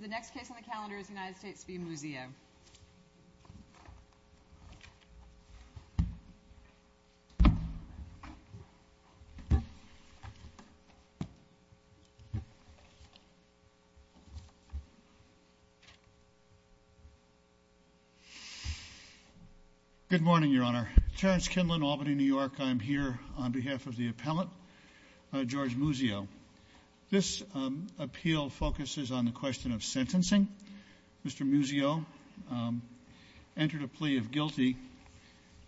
The next case on the calendar is United States v. Muzio. Good morning, Your Honor. Terrence Kinlan, Albany, New York. I'm here on behalf of the appellant, George Muzio. This appeal focuses on the question of sentencing. Mr. Muzio entered a plea of guilty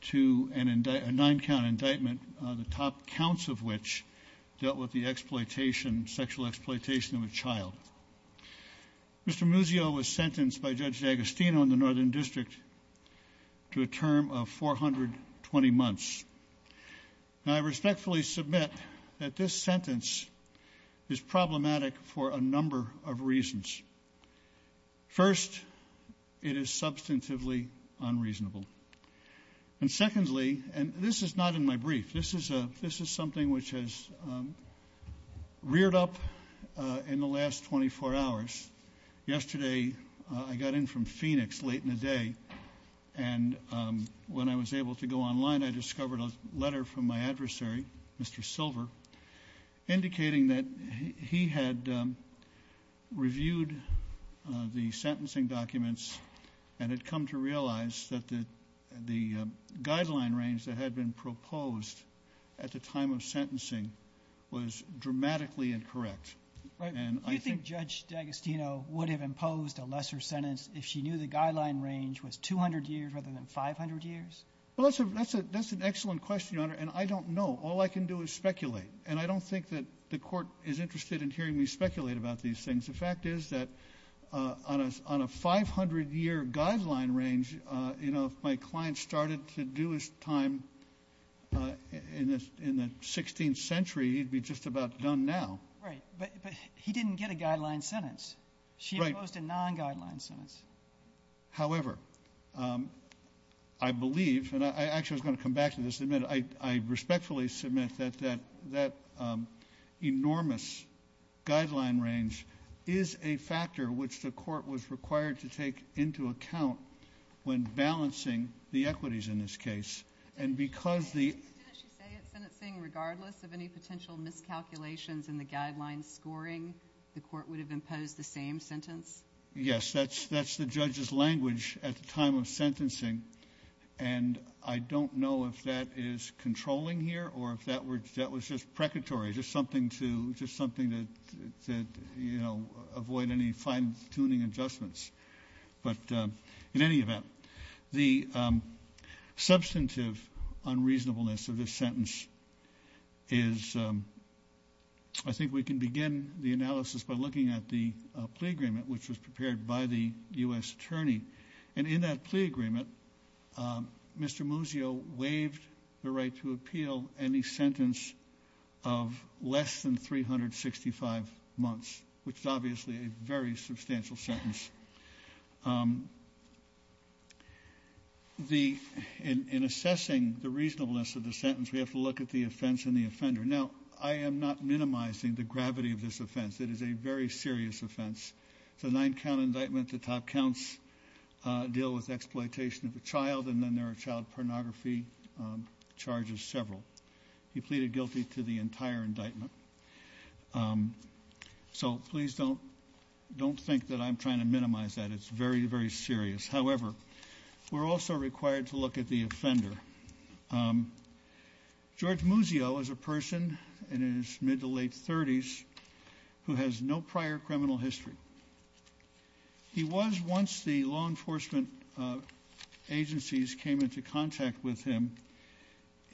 to a nine-count indictment, the top counts of which dealt with the sexual exploitation of a child. Mr. Muzio was sentenced by Judge D'Agostino in the Northern District to a term of 420 months. Now, I respectfully submit that this sentence is problematic for a number of reasons. First, it is substantively unreasonable. And secondly, and this is not in my brief, this is something which has reared up in the last 24 hours. Yesterday, I got in from Phoenix late in the day, and when I was able to go online, I discovered a letter from my adversary, Mr. Silver, indicating that he had reviewed the sentencing documents and had come to realize that the guideline range that had been proposed at the time of sentencing was dramatically incorrect. Do you think Judge D'Agostino would have imposed a lesser sentence if she knew the guideline range was 200 years rather than 500 years? Well, that's an excellent question, Your Honor, and I don't know. All I can do is speculate. And I don't think that the Court is interested in hearing me speculate about these things. The fact is that on a 500-year guideline range, you know, if my client started to do his time in the 16th century, he'd be just about done now. Right. But he didn't get a guideline sentence. She imposed a non-guideline sentence. However, I believe, and I actually was going to come back to this in a minute, I respectfully submit that that enormous guideline range is a factor which the Court was required to take into account when balancing the equities in this case. And because the... ...guideline scoring, the Court would have imposed the same sentence? Yes. That's the judge's language at the time of sentencing. And I don't know if that is controlling here or if that was just precatory, just something to, just something to, you know, avoid any fine-tuning adjustments. But in any event, the substantive unreasonableness of this sentence is, I think we can begin the analysis by looking at the plea agreement which was prepared by the U.S. Attorney. And in that plea agreement, Mr. Muzio waived the right to appeal any sentence of less than In assessing the reasonableness of the sentence, we have to look at the offense and the offender. Now, I am not minimizing the gravity of this offense. It is a very serious offense. It's a nine-count indictment. The top counts deal with exploitation of a child, and then there are child pornography charges, several. He pleaded guilty to the entire indictment. So, please don't, don't think that I'm trying to minimize that. It's very, very serious. However, we're also required to look at the offender. George Muzio is a person in his mid to late 30s who has no prior criminal history. He was, once the law enforcement agencies came into contact with him,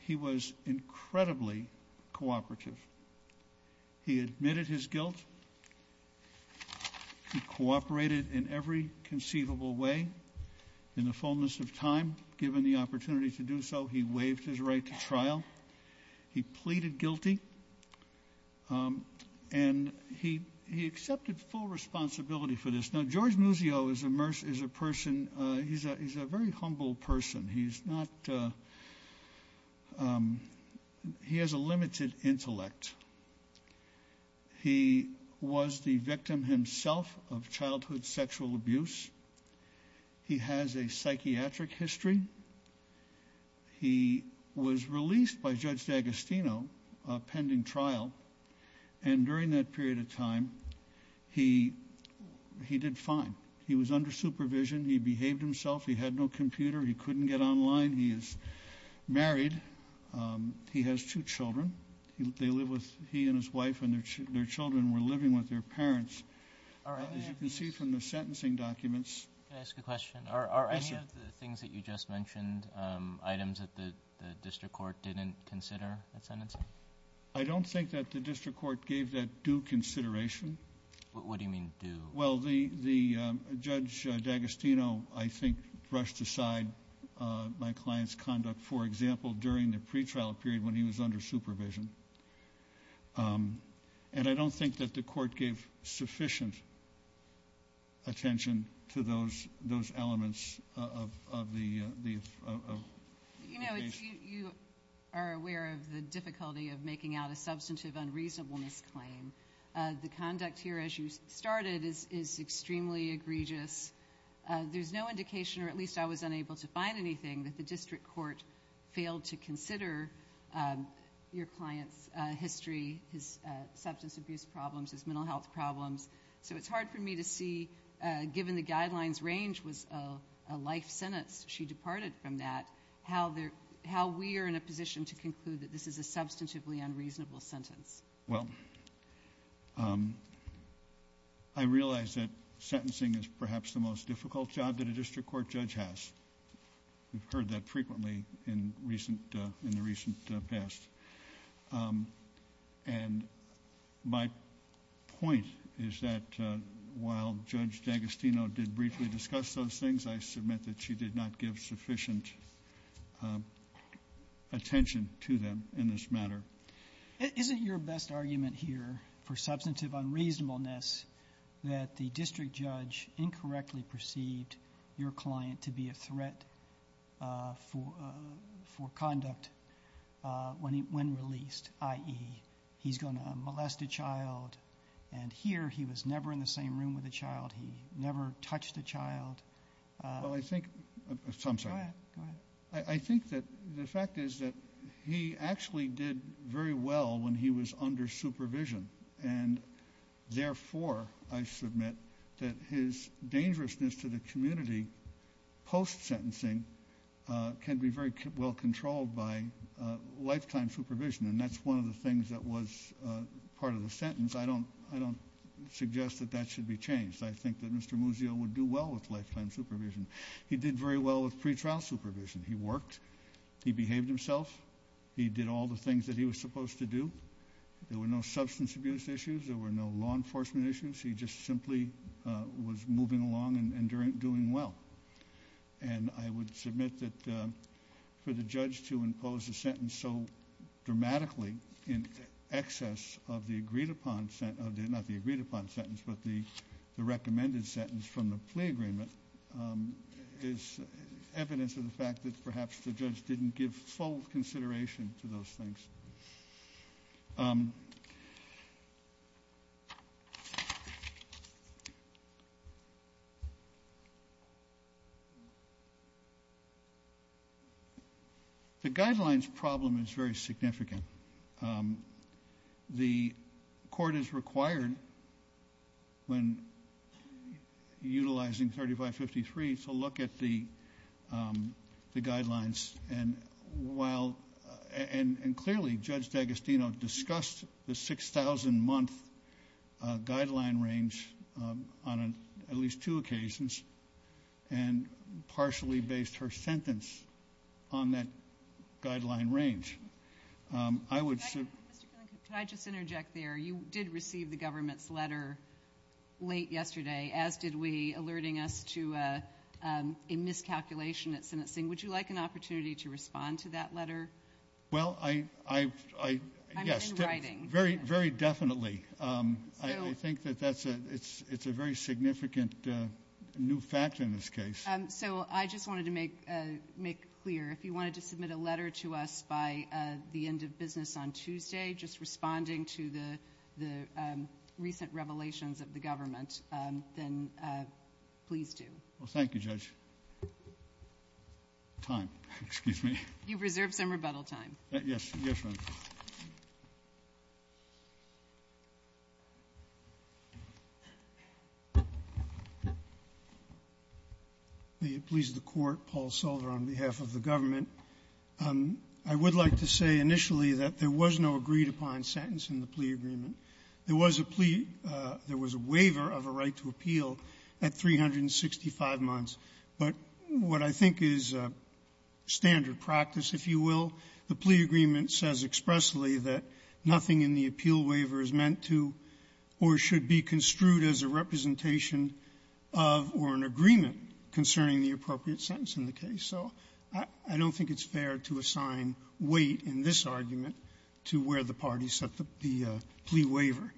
he was incredibly cooperative. He admitted his guilt. He cooperated in every conceivable way in the fullness of time. Given the opportunity to do so, he waived his right to trial. He pleaded guilty. And he accepted full responsibility for this. Now, George Muzio is a person, he's a very humble person. He's not, he has a limited intellect. He was the victim himself of childhood sexual abuse. He has a psychiatric history. He was released by Judge D'Agostino pending trial, and during that period of time, he did fine. He was under supervision. He behaved himself. He had no computer. He couldn't get online. He is married. He has two children. They live with, he and his wife, and their children were living with their parents. As you can see from the sentencing documents- Can I ask a question? Yes, sir. Are any of the things that you just mentioned items that the district court didn't consider at sentencing? I don't think that the district court gave that due consideration. What do you mean due? Well, the Judge D'Agostino, I think, brushed aside my client's conduct, for example, during the pretrial period when he was under supervision. And I don't think that the court gave sufficient attention to those elements of the case. You are aware of the difficulty of making out a substantive unreasonableness claim. The conduct here, as you started, is extremely egregious. There's no indication, or at least I was unable to find anything, that the district court failed to consider your client's history, his substance abuse problems, his mental health problems. So, it's hard for me to see, given the guidelines range was a life sentence. She departed from that. How we are in a position to conclude that this is a substantively unreasonable sentence. Well, I realize that sentencing is perhaps the most difficult job that a district court judge has. We've heard that frequently in the recent past. And my point is that while Judge D'Agostino did briefly discuss those things, I submit that she did not give sufficient attention to them in this matter. Isn't your best argument here for substantive unreasonableness that the district judge incorrectly perceived your client to be a threat for conduct when released, i.e., he's going to molest a child, and here he was never in the same room with a child, he never touched a child? Well, I think... I'm sorry. Go ahead. I think that the fact is that he actually did very well when he was under supervision. And therefore, I submit, that his dangerousness to the community post-sentencing can be very well controlled by lifetime supervision, and that's one of the things that was part of the sentence. I don't suggest that that should be changed. I think that Mr. Muzio would do well with lifetime supervision. He did very well with pretrial supervision. He worked, he behaved himself, he did all the things that he was supposed to do. There were no substance abuse issues, there were no law enforcement issues. He just simply was moving along and doing well. And I would submit that for the judge to impose a sentence so dramatically in excess of the agreed upon sentence, but the recommended sentence from the plea agreement is evidence of the fact that perhaps the judge didn't give full consideration to those things. The guidelines problem is very significant. The court is required, when utilizing 3553, to look at the guidelines, and clearly Judge D'Agostino discussed the 6,000-month guideline range on at least two occasions, and partially based her sentence on that guideline range. I would... Could I just interject there? You did receive the government's letter late yesterday, as did we, alerting us to a miscalculation at sentencing. Would you like an opportunity to respond to that letter? Well I... Yes. I'm in writing. Very definitely. I think that it's a very significant new fact in this case. So I just wanted to make clear, if you wanted to submit a letter to us by the end of business on Tuesday, just responding to the recent revelations of the government, then please do. Thank you, Judge. Time. Excuse me. You've reserved some rebuttal time. Yes. Yes, ma'am. May it please the Court, Paul Solder on behalf of the government. I would like to say initially that there was no agreed-upon sentence in the plea agreement. There was a plea. There was a waiver of a right to appeal at 365 months, but what I think is standard practice, if you will, the plea agreement says expressly that nothing in the appeal waiver is meant to or should be construed as a representation of or an agreement concerning the appropriate sentence in the case. So I don't think it's fair to assign weight in this argument to where the party set the plea waiver.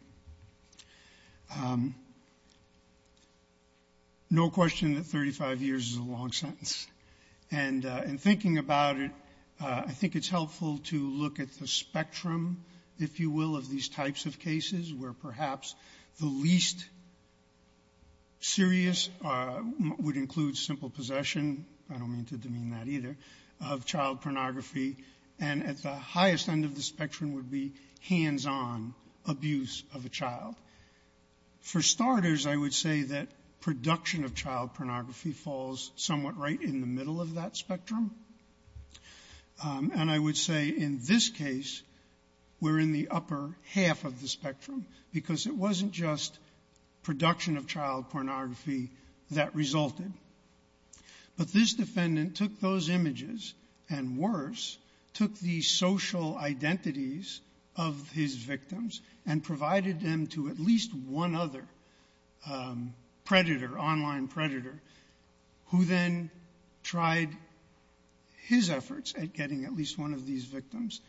No question that 35 years is a long sentence. And in thinking about it, I think it's helpful to look at the spectrum, if you will, of these types of cases where perhaps the least serious would include simple possession of child pornography, and at the highest end of the spectrum would be hands-on abuse of a child. For starters, I would say that production of child pornography falls somewhat right in the middle of that spectrum. And I would say in this case, we're in the upper half of the spectrum because it wasn't just production of child pornography that resulted. But this defendant took those images, and worse, took the social identities of his victims and provided them to at least one other predator, online predator, who then tried his efforts at getting at least one of these victims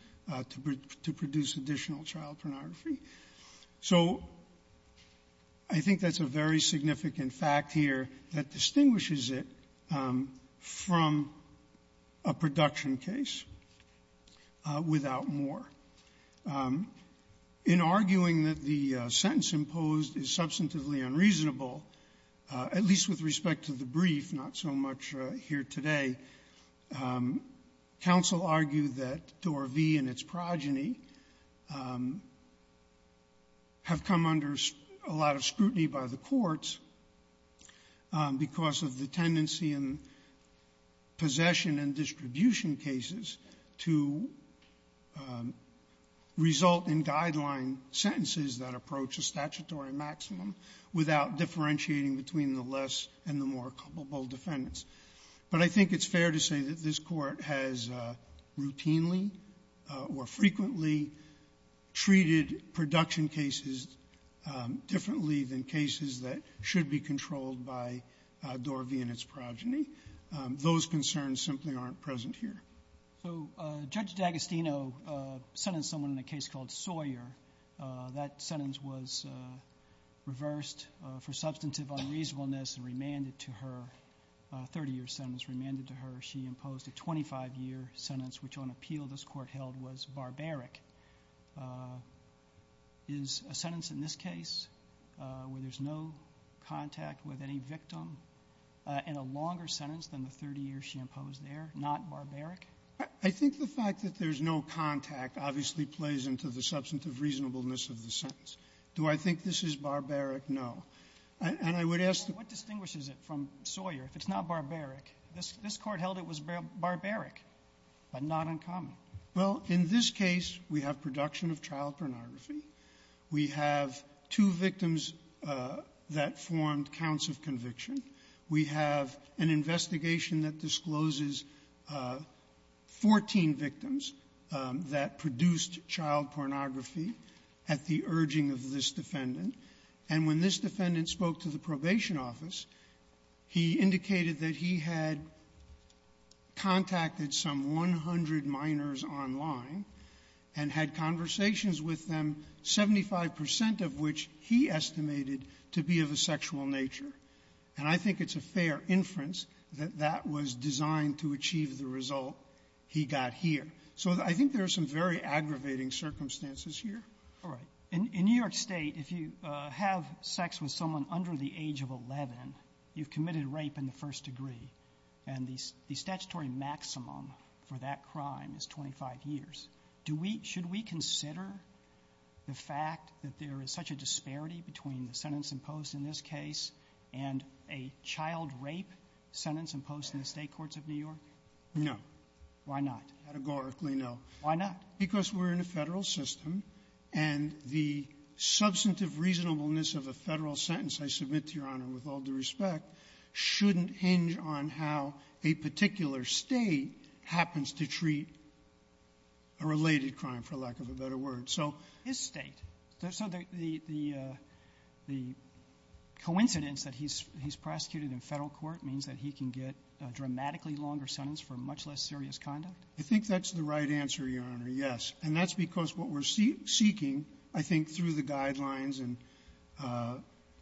to produce additional child pornography. So I think that's a very significant fact here that distinguishes it from a production case without more. In arguing that the sentence imposed is substantively unreasonable, at least with respect to the brief, not so much here today, counsel argued that Dorothy and its progeny have come under a lot of scrutiny by the courts because of the tendency in possession and distribution cases to result in guideline sentences that approach a statutory maximum without differentiating between the less and the more culpable defendants. But I think it's fair to say that this Court has routinely or frequently treated production cases differently than cases that should be controlled by Dorothy and its progeny. Those concerns simply aren't present here. So Judge D'Agostino sentenced someone in a case called Sawyer. That sentence was reversed for substantive unreasonableness and remanded to her, a 30-year sentence remanded to her. She imposed a 25-year sentence, which on appeal this Court held was barbaric. Is a sentence in this case where there's no contact with any victim in a longer sentence than the 30-year she imposed there not barbaric? I think the fact that there's no contact obviously plays into the substantive reasonableness of the sentence. Do I think this is barbaric? No. And I would ask the question, what distinguishes it from Sawyer if it's not barbaric? This Court held it was barbaric, but not uncommon. Well, in this case, we have production of child pornography. We have two victims that formed counts of conviction. We have an investigation that discloses 14 victims that produced child pornography at the urging of this defendant. And when this defendant spoke to the probation office, he indicated that he had contacted some 100 minors online and had conversations with them, 75 percent of which he estimated to be of a sexual nature. And I think it's a fair inference that that was designed to achieve the result he got here. So I think there are some very aggravating circumstances here. All right. In New York State, if you have sex with someone under the age of 11, you've committed rape in the first degree. And the statutory maximum for that crime is 25 years. Do we – should we consider the fact that there is such a disparity between the sentence imposed in this case and a child rape sentence imposed in the State courts of New York? No. Why not? Categorically, no. Why not? Because we're in a Federal system, and the substantive reasonableness of a Federal sentence, I submit to Your Honor, with all due respect, shouldn't hinge on how a particular State happens to treat a related crime, for lack of a better word. So the State – so the coincidence that he's prosecuted in Federal court means that he can get a dramatically longer sentence for much less serious conduct? I think that's the right answer, Your Honor, yes. And that's because what we're seeking, I think, through the guidelines and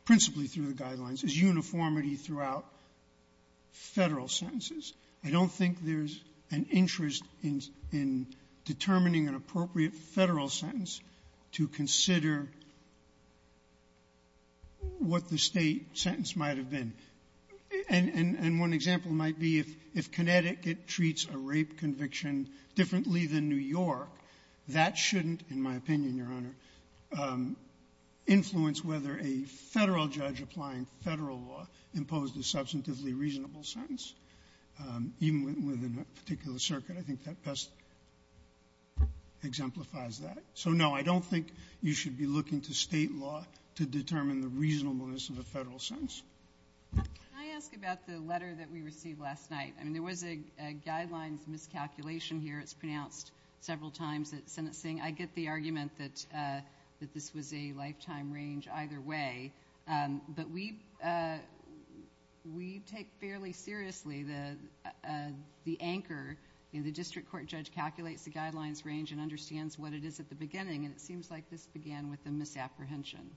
principally through the guidelines, is uniformity throughout Federal sentences. I don't think there's an interest in determining an appropriate Federal sentence to consider what the State sentence might have been. And one example might be if Connecticut treats a rape conviction differently than New York, that shouldn't, in my opinion, Your Honor, influence whether a Federal judge applying Federal law imposed a substantively reasonable sentence, even within a particular circuit. I think that best exemplifies that. So, no, I don't think you should be looking to State law to determine the reasonableness of a Federal sentence. Can I ask about the letter that we received last night? I mean, there was a guidelines miscalculation here. It's pronounced several times that sentence saying, I get the argument that this was a lifetime range either way. But we take fairly seriously the anchor in the district court judge calculates the guidelines range and understands what it is at the beginning, and it seems like this began with a misapprehension.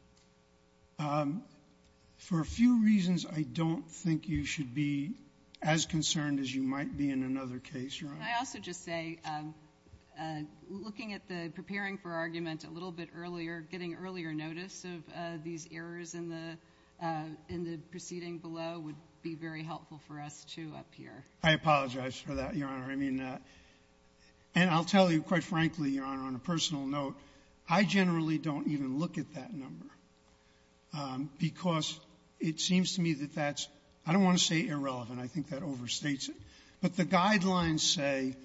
For a few reasons, I don't think you should be as concerned as you might be in another case, Your Honor. Can I also just say, looking at the preparing for argument a little bit earlier, getting earlier notice of these errors in the proceeding below would be very helpful for us, too, up here. I apologize for that, Your Honor. I mean, and I'll tell you, quite frankly, Your Honor, I don't want to say irrelevant. I think that overstates it. But the guidelines say,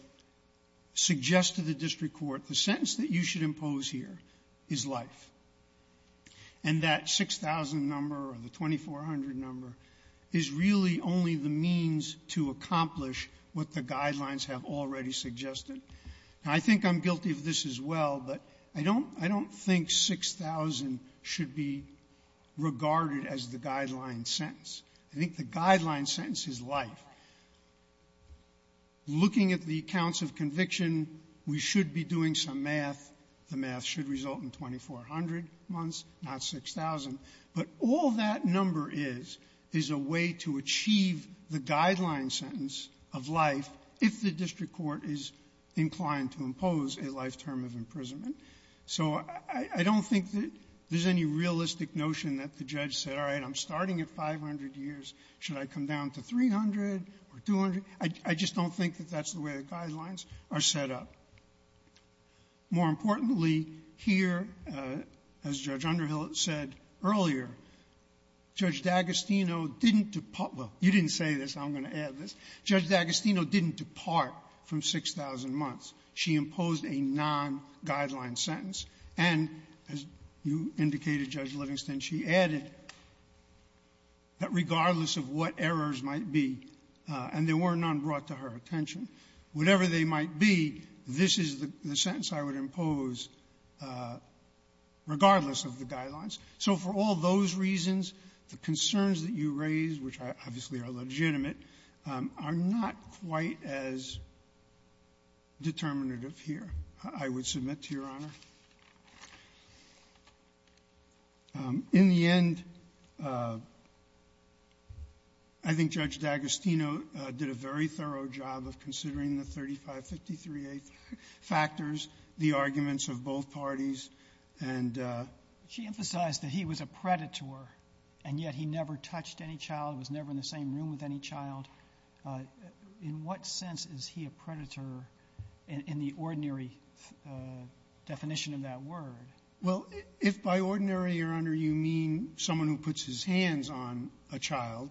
suggest to the district court, the sentence that you should impose here is life. And that 6,000 number or the 2,400 number is really only the means to accomplish what the guidelines have already suggested. And I think I'm guilty of this as well, that 6,000 should be regarded as the guideline sentence. I think the guideline sentence is life. Looking at the counts of conviction, we should be doing some math. The math should result in 2,400 months, not 6,000. But all that number is, is a way to achieve the guideline sentence of life if the district court is inclined to impose a life term of imprisonment. So I don't think that there's any realistic notion that the judge said, all right, I'm starting at 500 years. Should I come down to 300 or 200? I just don't think that that's the way the guidelines are set up. More importantly, here, as Judge Underhill said earlier, Judge D'Agostino didn't depart — well, you didn't say this. I'm going to add this. Judge D'Agostino didn't depart from 6,000 months. She imposed a non-guideline sentence. And as you indicated, Judge Livingston, she added that regardless of what errors might be, and there were none brought to her attention, whatever they might be, this is the sentence I would impose regardless of the guidelines. So for all those reasons, the concerns that you raised, which obviously are legitimate, are not quite as determinative here, I would submit to Your Honor. In the end, I think Judge D'Agostino did a very thorough job of considering the 3553A factors, the arguments of both parties, and the — I'm sorry. I'm just curious. In the case of the defendant, the defendant was never in the same room with any child. In what sense is he a predator in the ordinary definition of that word? Well, if by ordinary, Your Honor, you mean someone who puts his hands on a child,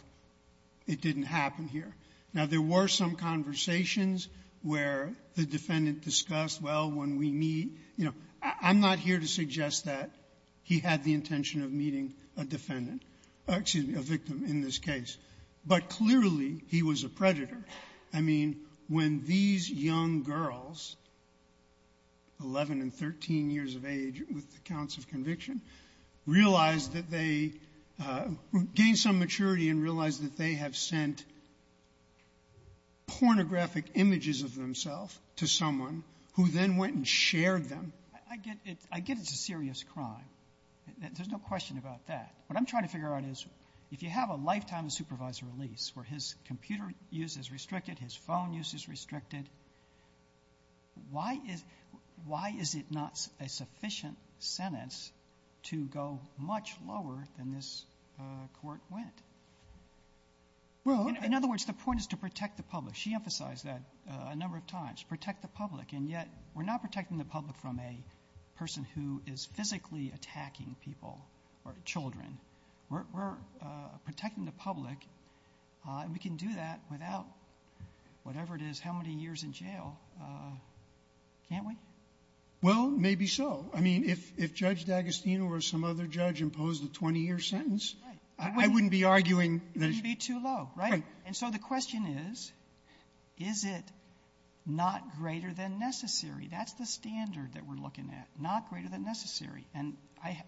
it didn't happen here. Now, there were some conversations where the defendant discussed, well, when we meet — you know, I'm not here to suggest that he had the intention of meeting a defendant — excuse me, a victim in this case. But clearly, he was a predator. I mean, when these young girls, 11 and 13 years of age with accounts of conviction, realized that they — gained some maturity and realized that they have sent pornographic images of themselves to someone who then went and shared them. I get — I get it's a serious crime. There's no question about that. What I'm trying to figure out is, if you have a lifetime of supervisory release where his computer use is restricted, his phone use is restricted, why is — why is it not a sufficient sentence to go much lower than this Court went? Well — In other words, the point is to protect the public. She emphasized that a number of times, protect the public. And yet, we're not protecting the public from a person who is physically attacking people or children. We're protecting the public. And we can do that without, whatever it is, how many years in jail, can't we? Well, maybe so. I mean, if Judge D'Agostino or some other judge imposed a 20-year sentence, I wouldn't be arguing that — It wouldn't be too low, right? Right. And so the question is, is it not greater than necessary? That's the standard that we're looking at, not greater than necessary. And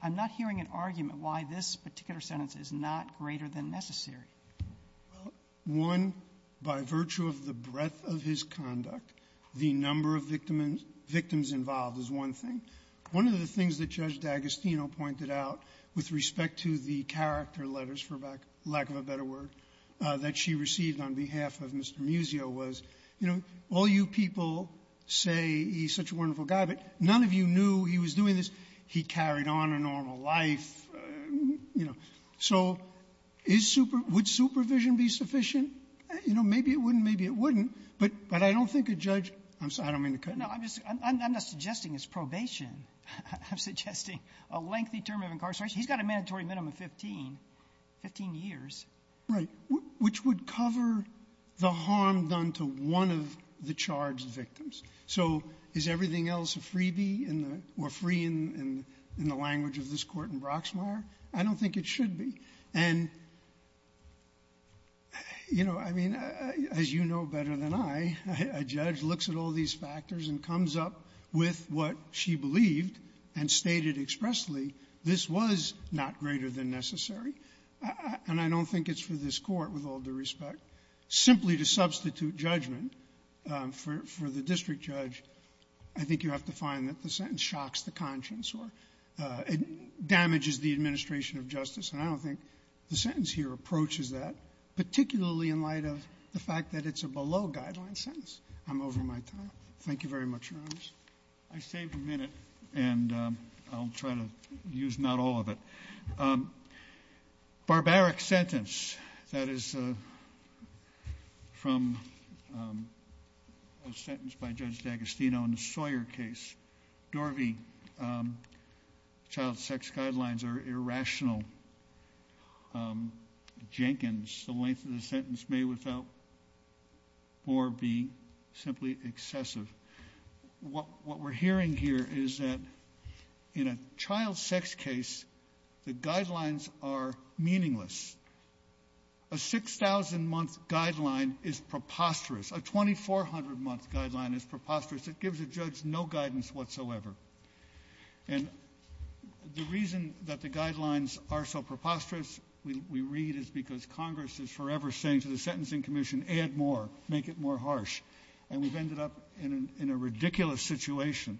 I'm not hearing an argument why this particular sentence is not greater than necessary. Well, one, by virtue of the breadth of his conduct, the number of victims involved is one thing. One of the things that Judge D'Agostino pointed out with respect to the character letters, for lack of a better word, that she received on behalf of Mr. Muzio was, you know, all you people say he's such a wonderful guy, but none of you knew he was doing this. He carried on a normal life, you know. So is super — would supervision be sufficient? You know, maybe it wouldn't, maybe it wouldn't. But I don't think a judge — I'm sorry. I don't mean to cut in. No. I'm just — I'm not suggesting it's probation. I'm suggesting a lengthy term of incarceration. He's got a mandatory minimum of 15, 15 years. Right. Which would cover the harm done to one of the charged victims. So is everything else a freebie in the — or free in the language of this Court in Broxmire? I don't think it should be. And, you know, I mean, as you know better than I, a judge looks at all these factors and comes up with what she believed and stated expressly, this was not greater than necessary. And I don't think it's for this Court, with all due respect. Simply to substitute judgment for the district judge, I think it's you have to find that the sentence shocks the conscience or damages the administration of justice. And I don't think the sentence here approaches that, particularly in light of the fact that it's a below-guideline sentence. I'm over my time. Thank you very much, Your Honors. I saved a minute, and I'll try to use not all of it. Barbaric sentence. That is from a sentence by Judge D'Agostino in the Sawyer case. Dorvy, child sex guidelines are irrational. Jenkins, the length of the sentence may without more be simply excessive. What we're hearing here is that in a child sex case, the guidelines are meaningless. A 6,000-month guideline is preposterous. A 2,400-month guideline is preposterous. It gives a judge no guidance whatsoever. And the reason that the guidelines are so preposterous, we read, is because Congress is forever saying to the Sentencing Commission, add more, make it more harsh. And we've ended up in a ridiculous situation.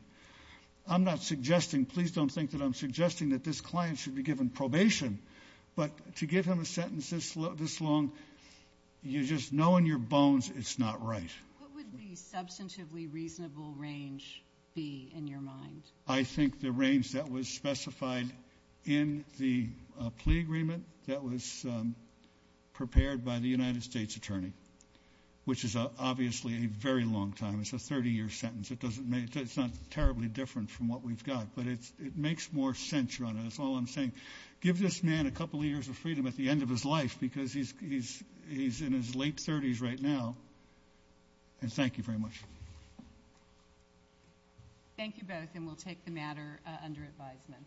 I'm not suggesting, please don't think that I'm suggesting that this client should be given probation, but to give him a sentence this long, you just know in your bones it's not right. What would the substantively reasonable range be in your mind? I think the range that was specified in the plea agreement that was prepared by the United States Attorney, which is obviously a very long time. It's a 30-year sentence. It doesn't make it. It's not terribly different from what we've got, but it makes more sense, Your Honor. That's all I'm saying. Give this man a couple of years of freedom at the end of his life, because he's in his late 30s right now. And thank you very much. Thank you both, and we'll take the matter under advisement.